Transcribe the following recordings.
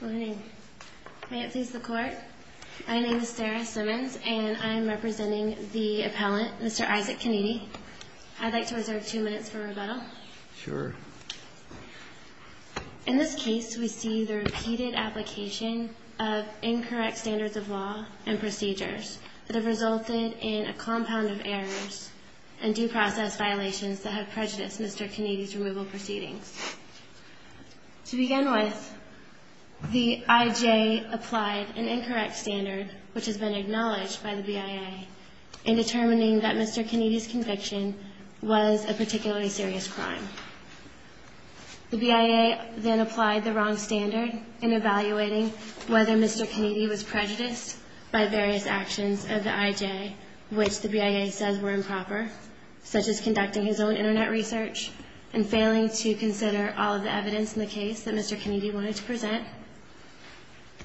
Good morning. May it please the court, my name is Sarah Simmons and I'm representing the appellant Mr. Isaac Kiniti. I'd like to reserve two minutes for rebuttal. Sure. In this case we see the repeated application of incorrect standards of law and procedures that have resulted in a compound of errors and due process violations that have prejudiced Mr. Kiniti's removal proceedings. To begin with, the IJ applied an incorrect standard which has been acknowledged by the BIA in determining that Mr. Kiniti's conviction was a particularly serious crime. The BIA then applied the wrong standard in evaluating whether Mr. Kiniti was prejudiced by various actions of the IJ which the BIA says were improper, such as conducting his own Internet research and failing to consider all of the evidence in the case that Mr. Kiniti wanted to present.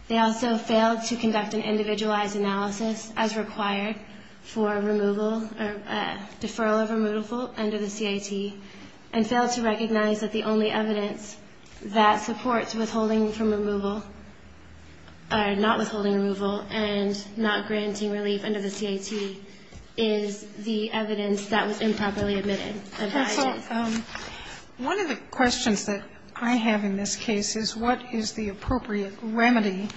They also failed to conduct an individualized analysis as required for removal or deferral of removal under the CIT and failed to recognize that the only evidence that supports withholding from removal or not withholding removal and not granting relief under the CIT is the evidence that was improperly admitted by the IJ. So one of the questions that I have in this case is what is the appropriate remedy,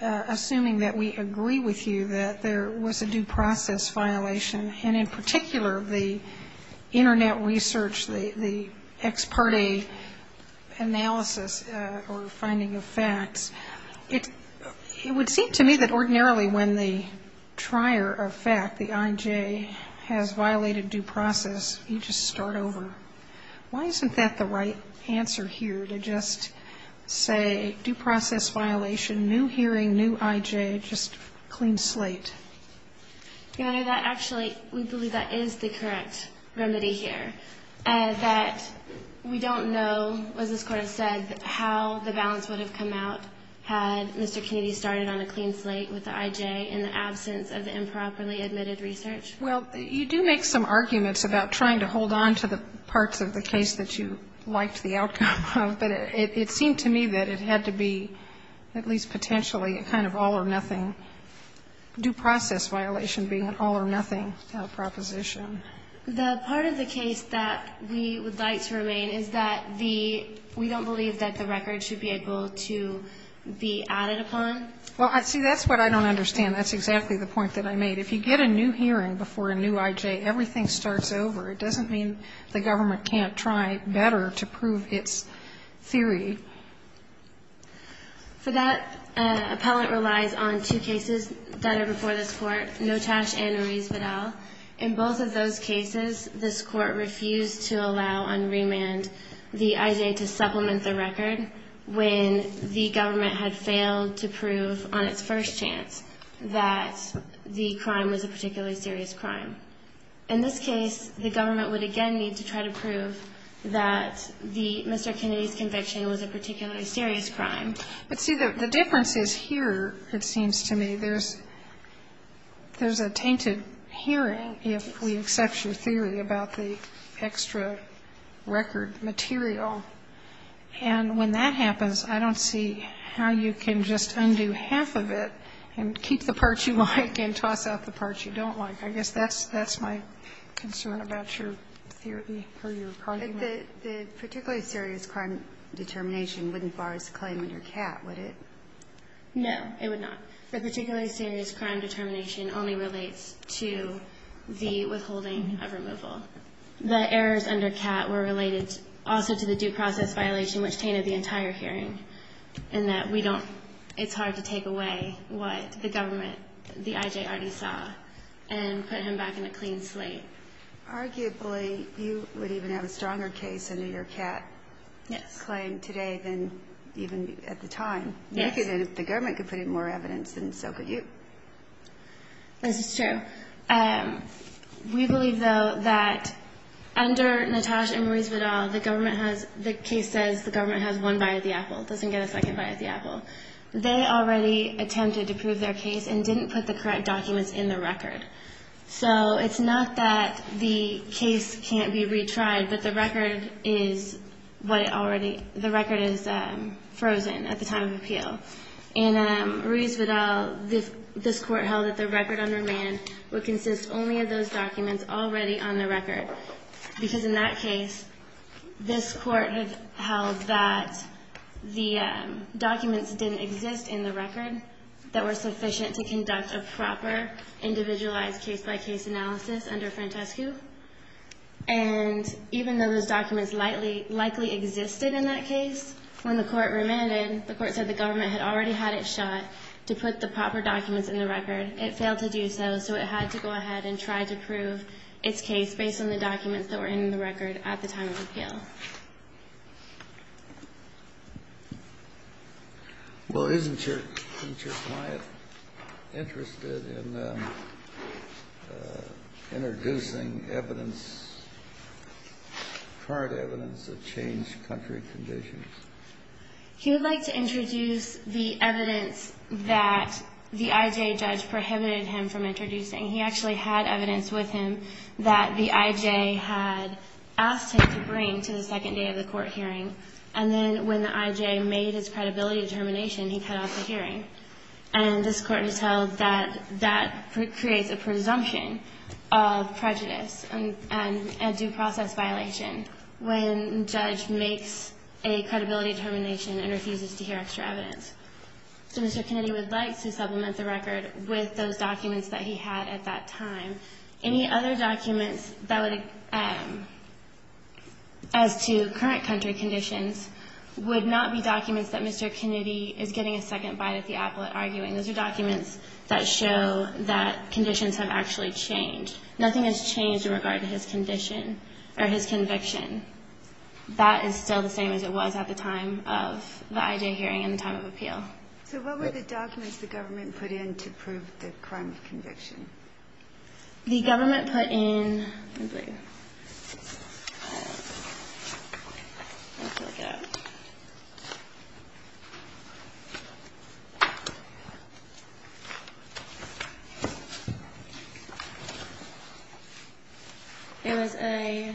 assuming that we agree with you that there was a due process violation, and in particular, the Internet research, the ex parte analysis or finding of facts. It would seem to me that ordinarily when the trier of fact, the IJ, has violated due process, you just start over. Why isn't that the right answer here to just say due process violation, new hearing, new IJ, just clean slate? You know, that actually, we believe that is the correct remedy here, that we don't know, as this Court has said, how the balance would have come out had Mr. Kiniti started on a clean slate with the IJ in the absence of the improperly admitted research. Well, you do make some arguments about trying to hold on to the parts of the case that you liked the outcome of, but it seemed to me that it had to be, at least potentially, a kind of all-or-nothing, due process violation being an all-or-nothing proposition. The part of the case that we would like to remain is that the we don't believe that the record should be able to be added upon. Well, see, that's what I don't understand. That's exactly the point that I made. If you get a new hearing before a new IJ, everything starts over. It doesn't mean the government can't try better to prove its theory. For that, an appellant relies on two cases that are before this Court, Notash and Ruiz-Vidal. In both of those cases, this Court refused to allow on remand the IJ to supplement the record when the government had failed to prove on its first chance that the crime was a particularly serious crime. In this case, the government would again need to try to prove that the Mr. Kiniti's case was a particularly serious crime. But, see, the difference is here, it seems to me, there's a tainted hearing if we accept your theory about the extra record material. And when that happens, I don't see how you can just undo half of it and keep the parts you like and toss out the parts you don't like. I guess that's my concern about your theory or your argument. The particularly serious crime determination wouldn't bar us to claim under CAT, would it? No, it would not. The particularly serious crime determination only relates to the withholding of removal. The errors under CAT were related also to the due process violation, which tainted the entire hearing, in that we don't, it's hard to take away what the government, the IJ already saw, and put him back in a clean slate. Arguably, you would even have a stronger case under your CAT claim today than even at the time. Yes. If the government could put in more evidence, then so could you. This is true. We believe, though, that under Natasha and Maurice Vidal, the government has, the case says the government has one bite of the apple, doesn't get a second bite of the apple. They already attempted to prove their case and didn't put the correct documents in the record. So it's not that the case can't be retried, but the record is what it already, the record is frozen at the time of appeal. And Maurice Vidal, this court held that the record under Mann would consist only of those documents already on the record, because in that case, this court has held that the documents didn't exist in the record that were sufficient to conduct a proper, individualized case-by-case analysis under Frantescu. And even though those documents likely existed in that case, when the court remanded, the court said the government had already had it shot to put the proper documents in the record. It failed to do so, so it had to go ahead and try to prove its case based on the documents that were in the record at the time of appeal. Well, isn't your client interested in introducing evidence, current evidence, that changed country conditions? He would like to introduce the evidence that the IJ judge prohibited him from introducing. He actually had evidence with him that the IJ had asked him to bring to the second day of the court hearing, and then when the IJ made his credibility determination, he cut off the hearing. And this court has held that that creates a presumption of prejudice and due process violation when a judge makes a credibility determination and refuses to hear extra evidence. So Mr. Kennedy would like to supplement the record with those documents that he had at that time. Any other documents that would, as to current country conditions, would not be documents that Mr. Kennedy is getting a second bite at the apple at arguing. Those are documents that show that conditions have actually changed. Nothing has changed in regard to his condition or his conviction. That is still the same as it was at the time of the IJ hearing and the time of appeal. So what were the documents the government put in to prove the crime of conviction? The government put in, let me see, let's look it up. It was a,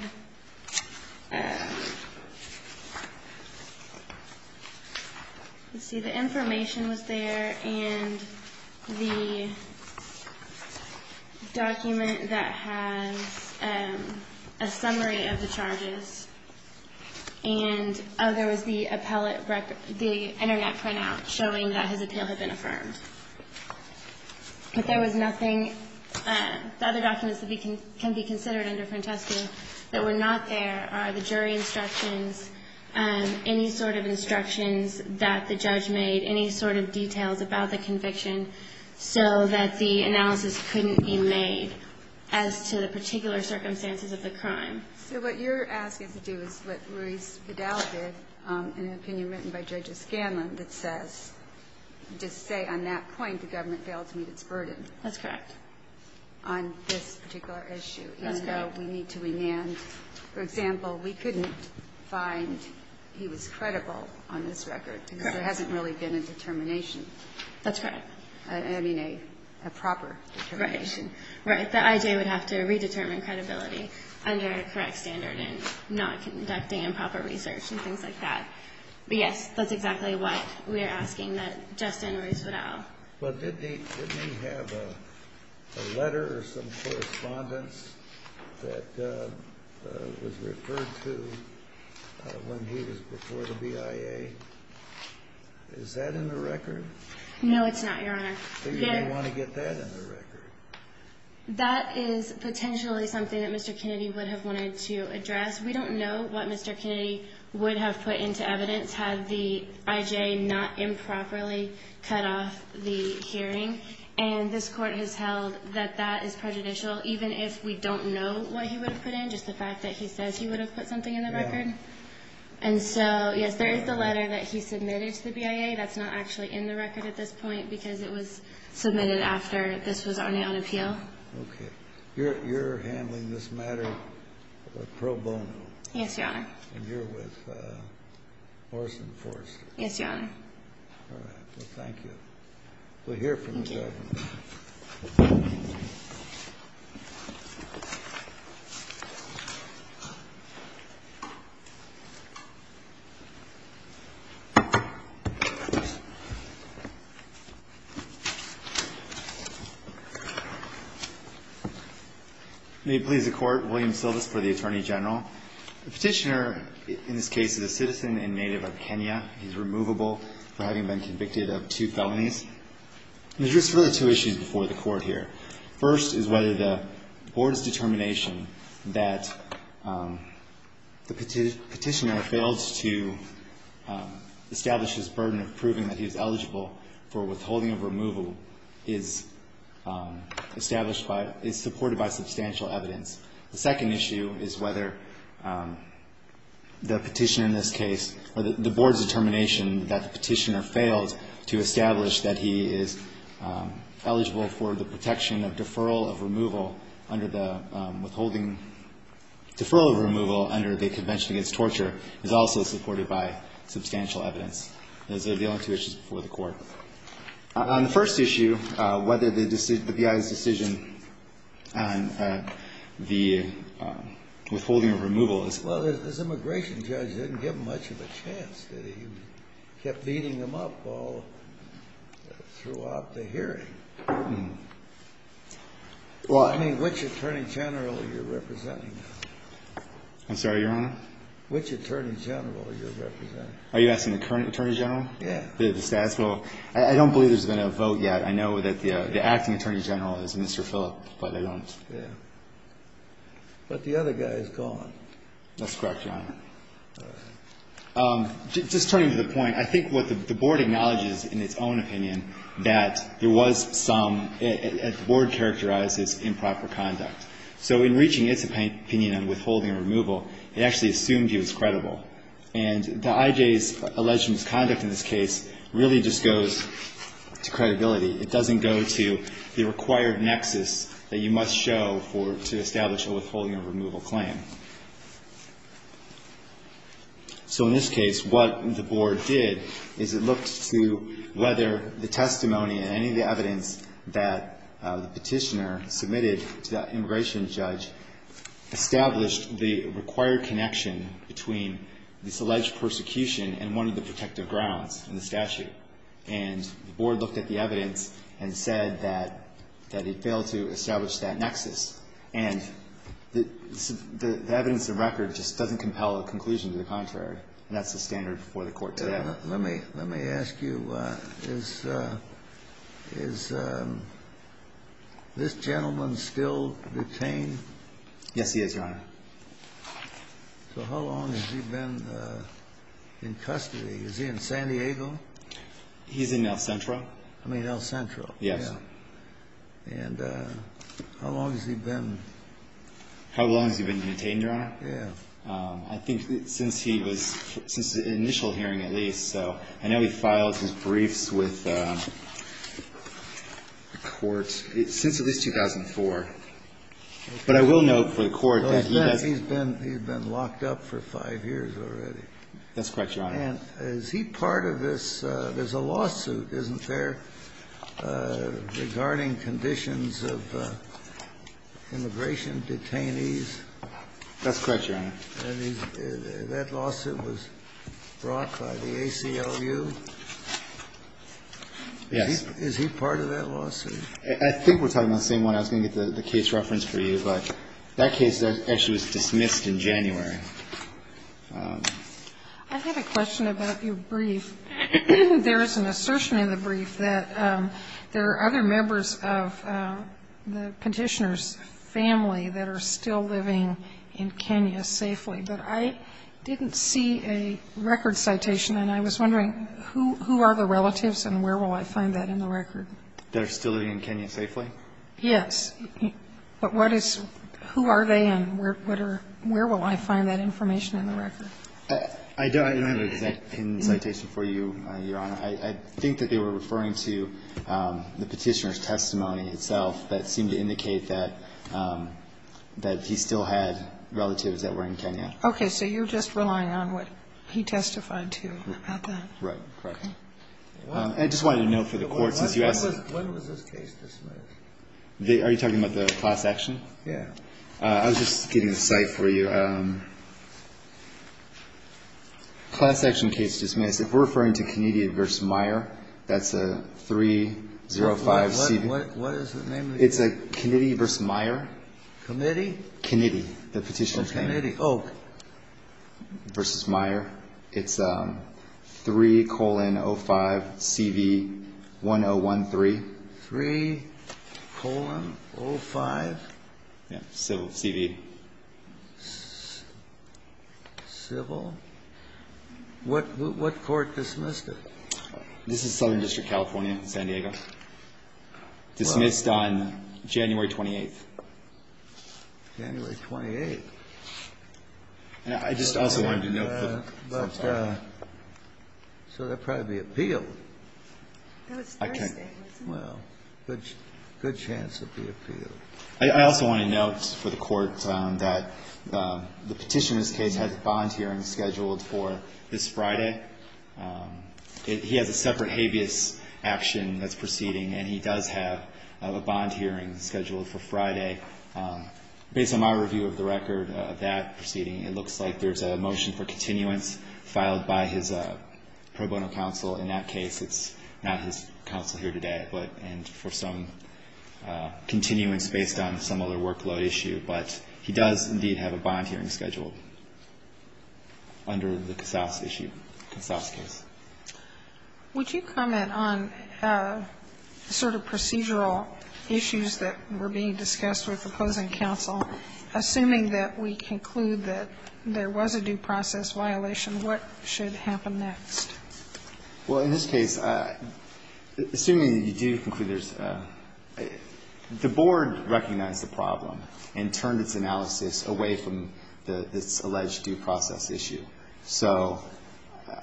let's see, the information was there and the document that has a summary of the record, the internet printout showing that his appeal had been affirmed. But there was nothing, the other documents that can be considered under different testing that were not there are the jury instructions, any sort of instructions that the judge made, any sort of details about the conviction so that the analysis couldn't be made as to the particular circumstances of the crime. So what you're asking us to do is what Ruiz Vidal did in an opinion written by Judge Escanla that says, just say on that point the government failed to meet its burden. That's correct. On this particular issue. That's correct. Even though we need to remand. For example, we couldn't find he was credible on this record because there hasn't really been a determination. That's correct. I mean a proper determination. Right. The IJ would have to redetermine credibility under a correct standard and not conducting improper research and things like that. But yes, that's exactly what we're asking that Justin Ruiz Vidal. But didn't he have a letter or some correspondence that was referred to when he was before the BIA? Is that in the record? No, it's not, Your Honor. So you don't want to get that in the record? That is potentially something that Mr. Kennedy would have wanted to address. We don't know what Mr. Kennedy would have put into evidence had the IJ not improperly cut off the hearing. And this Court has held that that is prejudicial even if we don't know what he would have put in, just the fact that he says he would have put something in the record. And so, yes, there is the letter that he submitted to the BIA. That's not actually in the record at this point because it was submitted after this was already on appeal. Okay. You're handling this matter pro bono? Yes, Your Honor. And you're with Orson Forrester? Yes, Your Honor. All right. Well, thank you. We'll hear from the judge. Thank you. May it please the Court. William Sildes for the Attorney General. The petitioner, in this case, is a citizen and native of Kenya. He's removable for having been convicted of two felonies. There's really two issues before the Court here. First is whether the Board's determination that the petitioner failed to establish his burden of proving that he's eligible for withholding of removal is established by, is supported by substantial evidence. The second issue is whether the petitioner in this case, or the Board's determination that the petitioner failed to establish that he is eligible for the protection of deferral of removal under the withholding, deferral of removal under the Convention Against Torture, is also supported by substantial evidence. Those are the only two issues before the Court. On the first issue, whether the BIA's decision on the withholding of removal is... Well, this immigration judge didn't give much of a chance. He kept beating them up all throughout the hearing. Well, I mean, which Attorney General are you representing? I'm sorry, Your Honor? Which Attorney General are you representing? Are you asking the current Attorney General? Yeah. The status quo. I don't believe there's been a vote yet. I know that the acting Attorney General is Mr. Phillip, but I don't... Yeah. But the other guy is gone. That's correct, Your Honor. All right. Just turning to the point, I think what the Board acknowledges in its own opinion that there was some, the Board characterizes improper conduct. So in reaching its opinion on withholding or removal, it actually assumed he was credible. And the IJ's alleged misconduct in this case really just goes to credibility. It doesn't go to the required nexus that you must show to establish a withholding or removal claim. So in this case, what the Board did is it looked to whether the testimony and any evidence that the petitioner submitted to the immigration judge established the required connection between this alleged persecution and one of the protective grounds in the statute. And the Board looked at the evidence and said that it failed to establish that nexus. And the evidence of record just doesn't compel a conclusion to the contrary. And that's the standard before the Court today. Let me ask you, is this gentleman still detained? Yes, he is, Your Honor. So how long has he been in custody? Is he in San Diego? He's in El Centro. I mean, El Centro. Yes. And how long has he been? How long has he been detained, Your Honor? Yes. I think since he was, since the initial hearing at least. So I know he filed his briefs with the court since at least 2004. But I will note for the Court that he has been. He's been locked up for five years already. That's correct, Your Honor. And is he part of this? There's a lawsuit, isn't there, regarding conditions of immigration detainees? That's correct, Your Honor. And that lawsuit was brought by the ACLU? Yes. Is he part of that lawsuit? I think we're talking about the same one. I was going to get the case reference for you. But that case actually was dismissed in January. I have a question about your brief. There is an assertion in the brief that there are other members of the Petitioner's family that are still living in Kenya safely. But I didn't see a record citation, and I was wondering, who are the relatives and where will I find that in the record? They're still living in Kenya safely? Yes. But what is, who are they and where will I find that information in the record? I don't have an exact citation for you, Your Honor. I think that they were referring to the Petitioner's testimony itself that seemed to indicate that he still had relatives that were in Kenya. Okay. So you're just relying on what he testified to about that? Right. Correct. I just wanted a note for the Court, since you asked. When was this case dismissed? Are you talking about the class action? Yes. I was just getting a cite for you. Class action case dismissed, if we're referring to Kennedy v. Meyer, that's a 305CB. What is the name of the case? It's a Kennedy v. Meyer. Committee? Kennedy. The Petitioner's Committee. Okay. Oh. Versus Meyer. It's 3,05CV1013. 3,05? Yes. Civil. Civil. What court dismissed it? This is Southern District, California, San Diego. It was dismissed on January 28th. January 28th. And I just also wanted to note the time. So they'll probably be appealed. That was Thursday, wasn't it? Well, good chance they'll be appealed. I also want to note for the Court that the Petitioner's case has a volunteering scheduled for this Friday. He has a separate habeas action that's proceeding, and he does have a bond hearing scheduled for Friday. Based on my review of the record of that proceeding, it looks like there's a motion for continuance filed by his pro bono counsel. In that case, it's not his counsel here today, but for some continuance based on some other workload issue. But he does, indeed, have a bond hearing scheduled under the Casas issue, Casas case. Would you comment on sort of procedural issues that were being discussed with opposing counsel? Assuming that we conclude that there was a due process violation, what should happen next? Well, in this case, assuming you do conclude there's the board recognized the problem and turned its analysis away from this alleged due process issue. So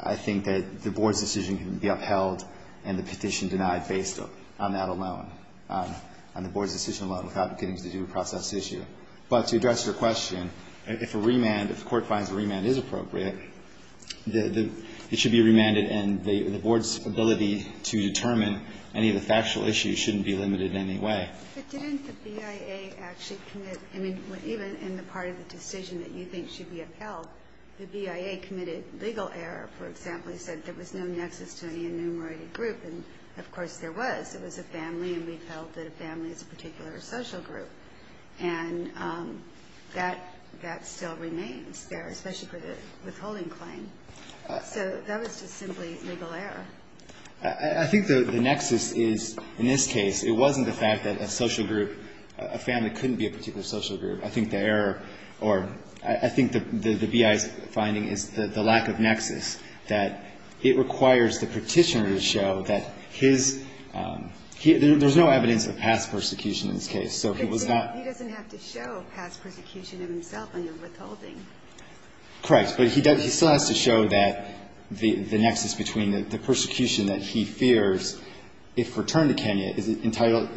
I think that the board's decision can be upheld and the petition denied based on that alone, on the board's decision alone without getting to the due process issue. But to address your question, if a remand, if the Court finds a remand is appropriate, it should be remanded, and the board's ability to determine any of the factual issues shouldn't be limited in any way. But didn't the BIA actually commit, I mean, even in the part of the decision that you think should be upheld, the BIA committed legal error, for example, said there was no nexus to any enumerated group. And, of course, there was. It was a family, and we felt that a family is a particular social group. And that still remains there, especially for the withholding claim. So that was just simply legal error. I think the nexus is, in this case, it wasn't the fact that a social group, a family couldn't be a particular social group. I think the error, or I think the BIA's finding is the lack of nexus, that it requires the petitioner to show that his, there's no evidence of past persecution in this case. So he was not. He doesn't have to show past persecution of himself when you're withholding. Correct. But he still has to show that the nexus between the persecution that he fears, if returned to Kenya, is entitled,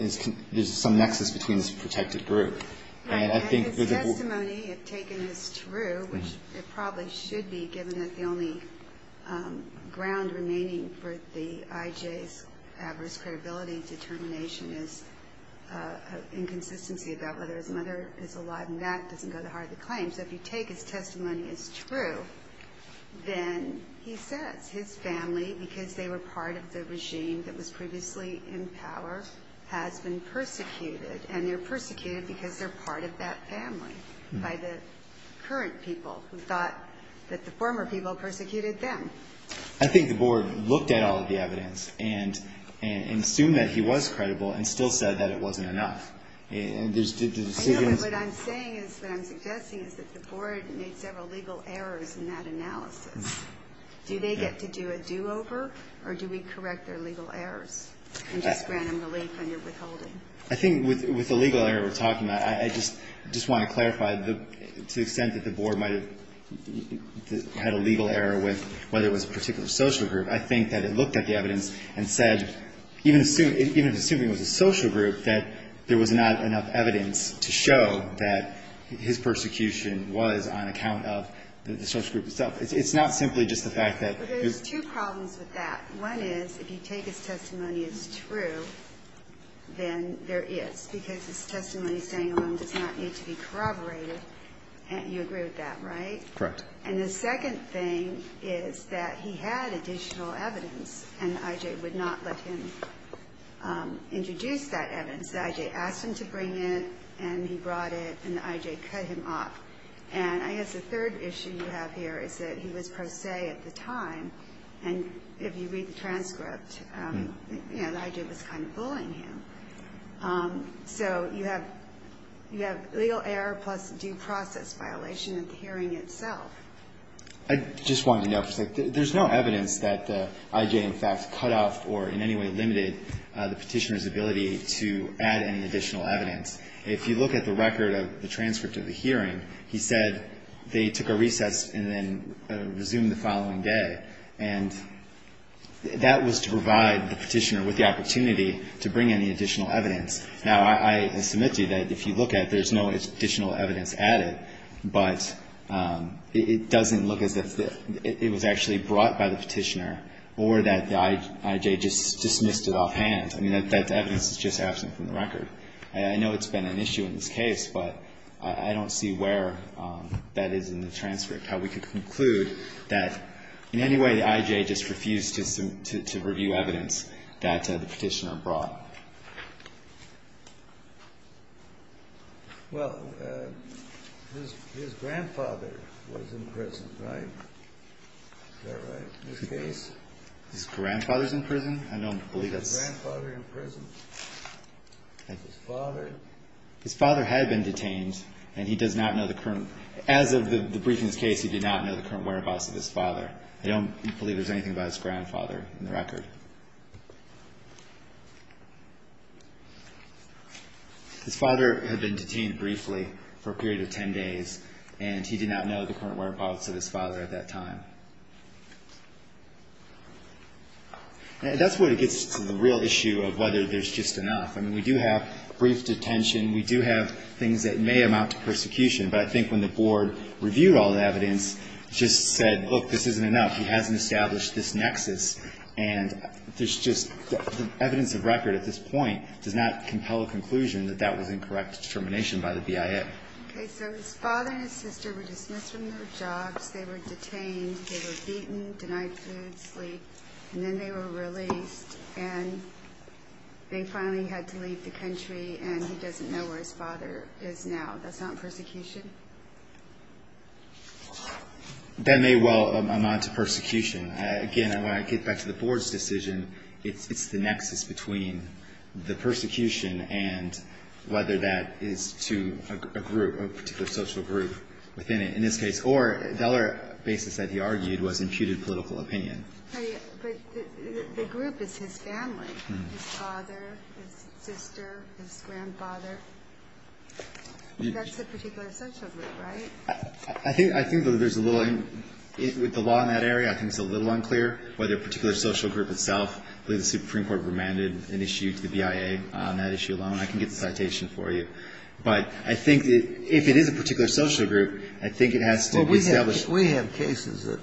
there's some nexus between this protected group. Right. And his testimony, if taken, is true, which it probably should be, given that the only ground remaining for the IJ's adverse credibility determination is inconsistency about whether his mother is alive. And that doesn't go to heart of the claim. So if you take his testimony as true, then he says his family, because they were part of the regime that was previously in power, has been persecuted. And they're persecuted because they're part of that family by the current people who thought that the former people persecuted them. I think the board looked at all of the evidence and assumed that he was credible and still said that it wasn't enough. I know, but what I'm saying is, what I'm suggesting is that the board made several legal errors in that analysis. Do they get to do a do-over, or do we correct their legal errors and just grant them relief on their withholding? I think with the legal error we're talking about, I just want to clarify, to the extent that the board might have had a legal error with whether it was a particular social group, I think that it looked at the evidence and said, even assuming it was a social group, that there was not enough evidence to show that his persecution was on account of the social group itself. It's not simply just the fact that there's two problems with that. One is, if you take his testimony as true, then there is, because his testimony staying alone does not need to be corroborated. And you agree with that, right? Correct. And the second thing is that he had additional evidence, and I.J. would not let him introduce that evidence. The I.J. asked him to bring it, and he brought it, and the I.J. cut him off. And I guess the third issue you have here is that he was pro se at the time, and if you read the transcript, you know, the I.J. was kind of bullying him. So you have legal error plus due process violation of the hearing itself. I just wanted to note, there's no evidence that I.J. in fact cut off or in any way limited the Petitioner's ability to add any additional evidence. If you look at the record of the transcript of the hearing, he said they took a recess and then resumed the following day. And that was to provide the Petitioner with the opportunity to bring in the additional evidence. Now, I submit to you that if you look at it, there's no additional evidence added, but it doesn't look as if it was actually brought by the Petitioner or that the I.J. just dismissed it offhand. I mean, that evidence is just absent from the record. I know it's been an issue in this case, but I don't see where that is in the transcript, how we could conclude that in any way the I.J. just refused to review evidence that the Petitioner brought. Well, his grandfather was in prison, right? Is that right, in this case? His grandfather's in prison? I don't believe that's. His grandfather in prison. His father? His father had been detained, and he does not know the current. As of the briefing's case, he did not know the current whereabouts of his father. I don't believe there's anything about his grandfather in the record. His father had been detained briefly for a period of 10 days, and he did not know the current whereabouts of his father at that time. That's where it gets to the real issue of whether there's just enough. I mean, we do have brief detention. We do have things that may amount to persecution, but I think when the Board reviewed all the evidence, it just said, look, this isn't enough. Evidence of record at this point does not compel a conclusion that that was incorrect determination by the BIA. Okay, so his father and his sister were dismissed from their jobs, they were detained, they were beaten, denied food, sleep, and then they were released, and they finally had to leave the country, and he doesn't know where his father is now. That's not persecution? That may well amount to persecution. Again, when I get back to the Board's decision, it's the nexus between the persecution and whether that is to a group, a particular social group within it, in this case, or the other basis that he argued was imputed political opinion. But the group is his family, his father, his sister, his grandfather. That's a particular social group, right? I think that there's a little, with the law in that area, I think it's a little unclear whether a particular social group itself. I believe the Supreme Court remanded an issue to the BIA on that issue alone. I can get the citation for you. But I think that if it is a particular social group, I think it has to be established. Well, we have cases that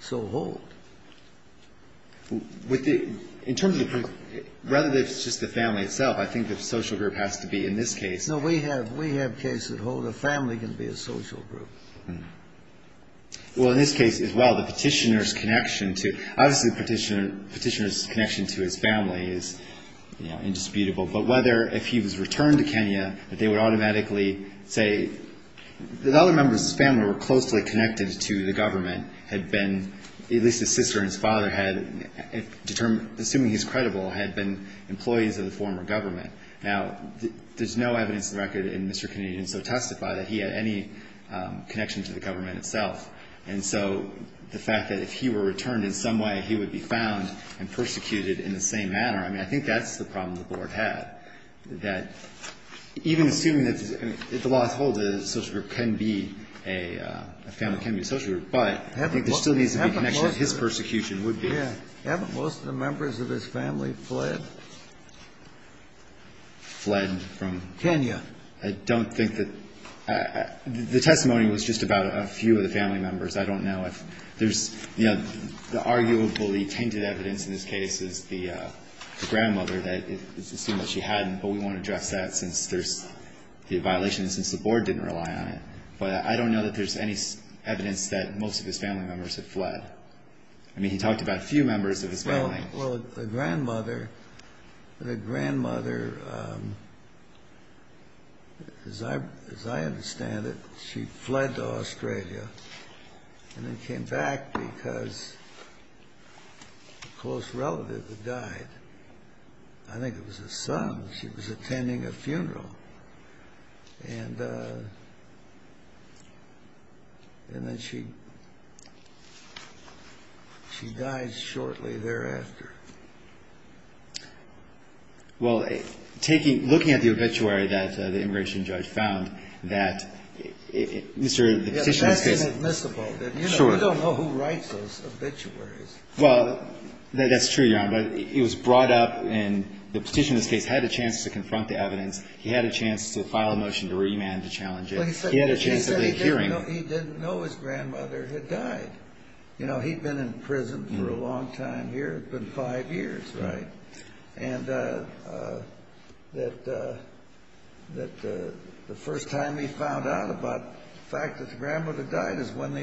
so hold. In terms of the group, rather than if it's just the family itself, I think the social group has to be in this case. No, we have cases that hold a family can be a social group. Well, in this case as well, the Petitioner's connection to, obviously the Petitioner's connection to his family is indisputable. But whether, if he was returned to Kenya, that they would automatically say the other members of his family were closely connected to the government, had been, at least his sister and his father had, assuming he's credible, had been employees of the former government. Now, there's no evidence in the record in Mr. Canadian. So testify that he had any connection to the government itself. And so the fact that if he were returned in some way, he would be found and persecuted in the same manner, I mean, I think that's the problem the Board had. That even assuming that the law holds that a social group can be a family can be a social group. But I think there still needs to be a connection of his persecution would be. Yeah. Haven't most of the members of his family fled? Fled from? Kenya. I don't think that. The testimony was just about a few of the family members. I don't know if there's, you know, the arguably tainted evidence in this case is the grandmother, that it's assumed that she hadn't, but we won't address that since there's the violation and since the Board didn't rely on it. But I don't know that there's any evidence that most of his family members have fled. I mean, he talked about a few members of his family. Well, the grandmother, the grandmother, as I understand it, she fled to Australia and then came back because a close relative had died. I think it was a son. She was attending a funeral. And then she died shortly thereafter. Well, looking at the obituary that the immigration judge found that Mr. That's inadmissible. We don't know who writes those obituaries. Well, that's true, Your Honor, but it was brought up and the petitioner in this case had a chance to confront the evidence. He had a chance to file a motion to remand to challenge it. He had a chance of a hearing. He said he didn't know his grandmother had died. You know, he'd been in prison for a long time here. It's been five years, right? And that the first time he found out about the fact that the grandmother died is when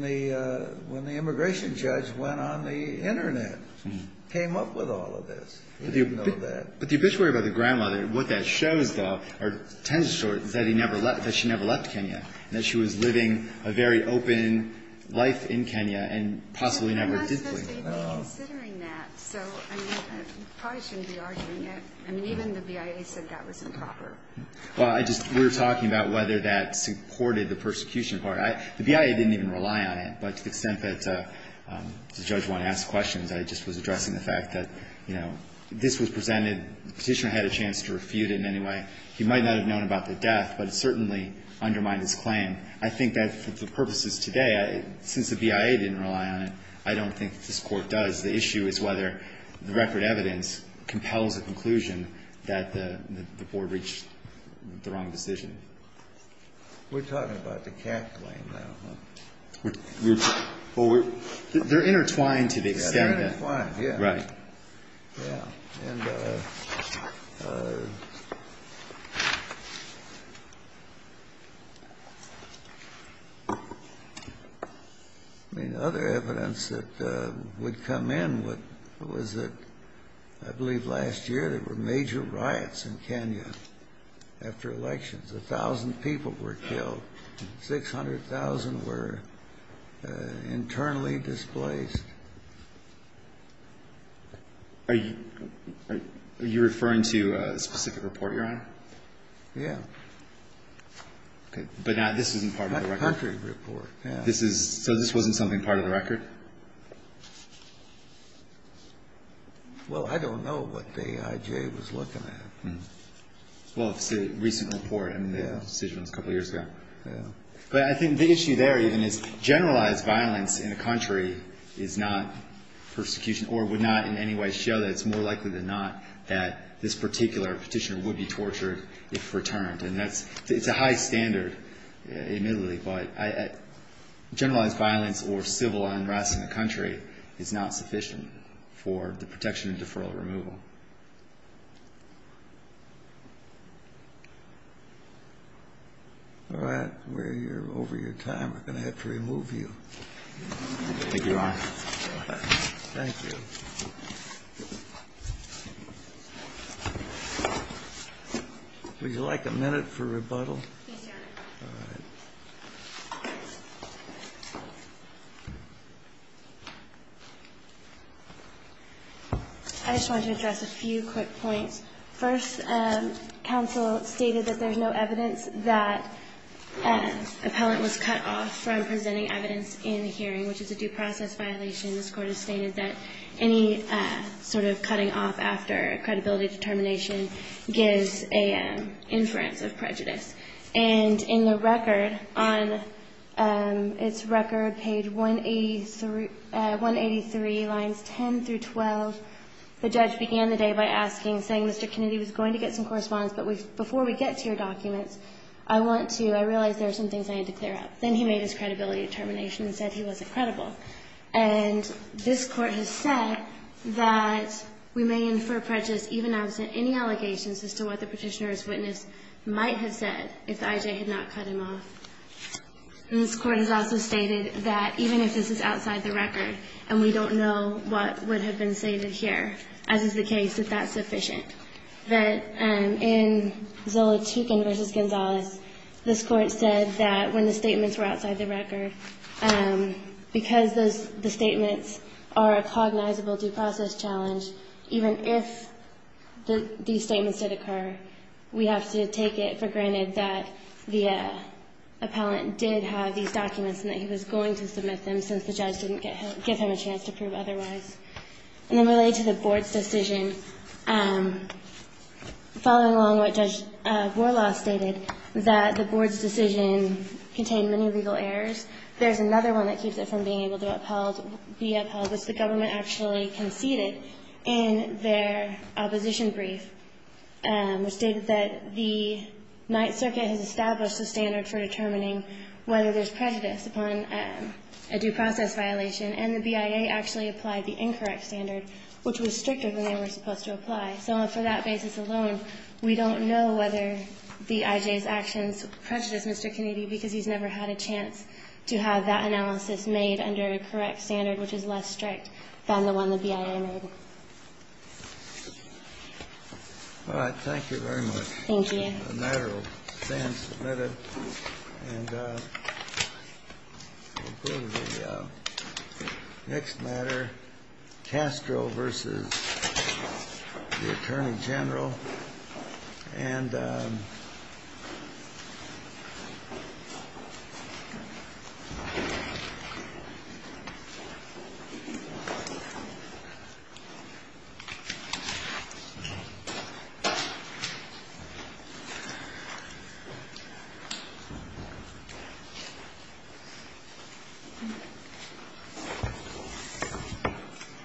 the immigration judge went on the Internet, came up with all of this. He didn't know that. But the obituary about the grandmother, what that shows, though, or tends to show is that he never left, that she never left Kenya, and that she was living a very open life in Kenya and possibly never did leave. But it wasn't that they were considering that. So, I mean, I probably shouldn't be arguing it. I mean, even the BIA said that was improper. Well, I just we were talking about whether that supported the persecution part. The BIA didn't even rely on it. But to the extent that the judge wanted to ask questions, I just was addressing the fact that, you know, this was presented, the Petitioner had a chance to refute it in any way. He might not have known about the death, but it certainly undermined his claim. I think that for the purposes today, since the BIA didn't rely on it, I don't think this Court does. The issue is whether the record evidence compels a conclusion that the Board reached the wrong decision. We're talking about the CAC claim now. They're intertwined to the extent that. They're intertwined, yeah. Right. Yeah. I mean, other evidence that would come in was that I believe last year there were major riots in Kenya after elections. A thousand people were killed. Six hundred thousand were internally displaced. Are you referring to a specific report, Your Honor? Yeah. Okay. But this isn't part of the record. A country report, yeah. So this wasn't something part of the record? Well, I don't know what the IJ was looking at. Well, it's a recent report, and the decision was a couple years ago. Yeah. But I think the issue there even is generalized violence in a country is not persecution or would not in any way show that it's more likely than not that this particular petitioner would be tortured if returned. And it's a high standard, admittedly, but generalized violence or civil unrest in a country is not sufficient for the protection of deferral removal. All right. We're over your time. We're going to have to remove you. Thank you, Your Honor. Thank you. Would you like a minute for rebuttal? Yes, Your Honor. All right. I just want to address a few quick points. First, counsel stated that there's no evidence that an appellant was cut off from presenting evidence in a hearing, which is a due process violation. This Court has stated that any sort of cutting off after a credibility determination gives an inference of prejudice. And in the record, on its record, page 183, lines 10 through 12, the judge began the day by asking, saying, Mr. Kennedy was going to get some correspondence, but before we get to your documents, I want to – I realize there are some things I need to clear up. Then he made his credibility determination and said he wasn't credible. And this Court has said that we may infer prejudice even absent any allegations as to what the petitioner's witness might have said if the IJ had not cut him off. And this Court has also stated that even if this is outside the record and we don't know what would have been stated here, as is the case, that that's sufficient. That in Zola Tuchin v. Gonzalez, this Court said that when the statements were outside the record, because the statements are a cognizable due process challenge, even if these statements did occur, we have to take it for granted that the appellant did have these documents and that he was going to submit them since the judge didn't give him a chance to prove otherwise. And then related to the Board's decision, following along what Judge Warlaw stated, that the Board's decision contained many legal errors, there's another one that keeps it from being able to be upheld, which the government actually conceded in their opposition brief, which stated that the Ninth Circuit has established a standard for determining whether there's prejudice upon a due process violation. And the BIA actually applied the incorrect standard, which was stricter than they were supposed to apply. So for that basis alone, we don't know whether the IJ's actions prejudice Mr. Kennedy because he's never had a chance to have that analysis made under a correct standard, which is less strict than the one the BIA made. All right. Thank you very much. Thank you. The matter will stand submitted. And we'll go to the next matter, Castro v. the Attorney General. And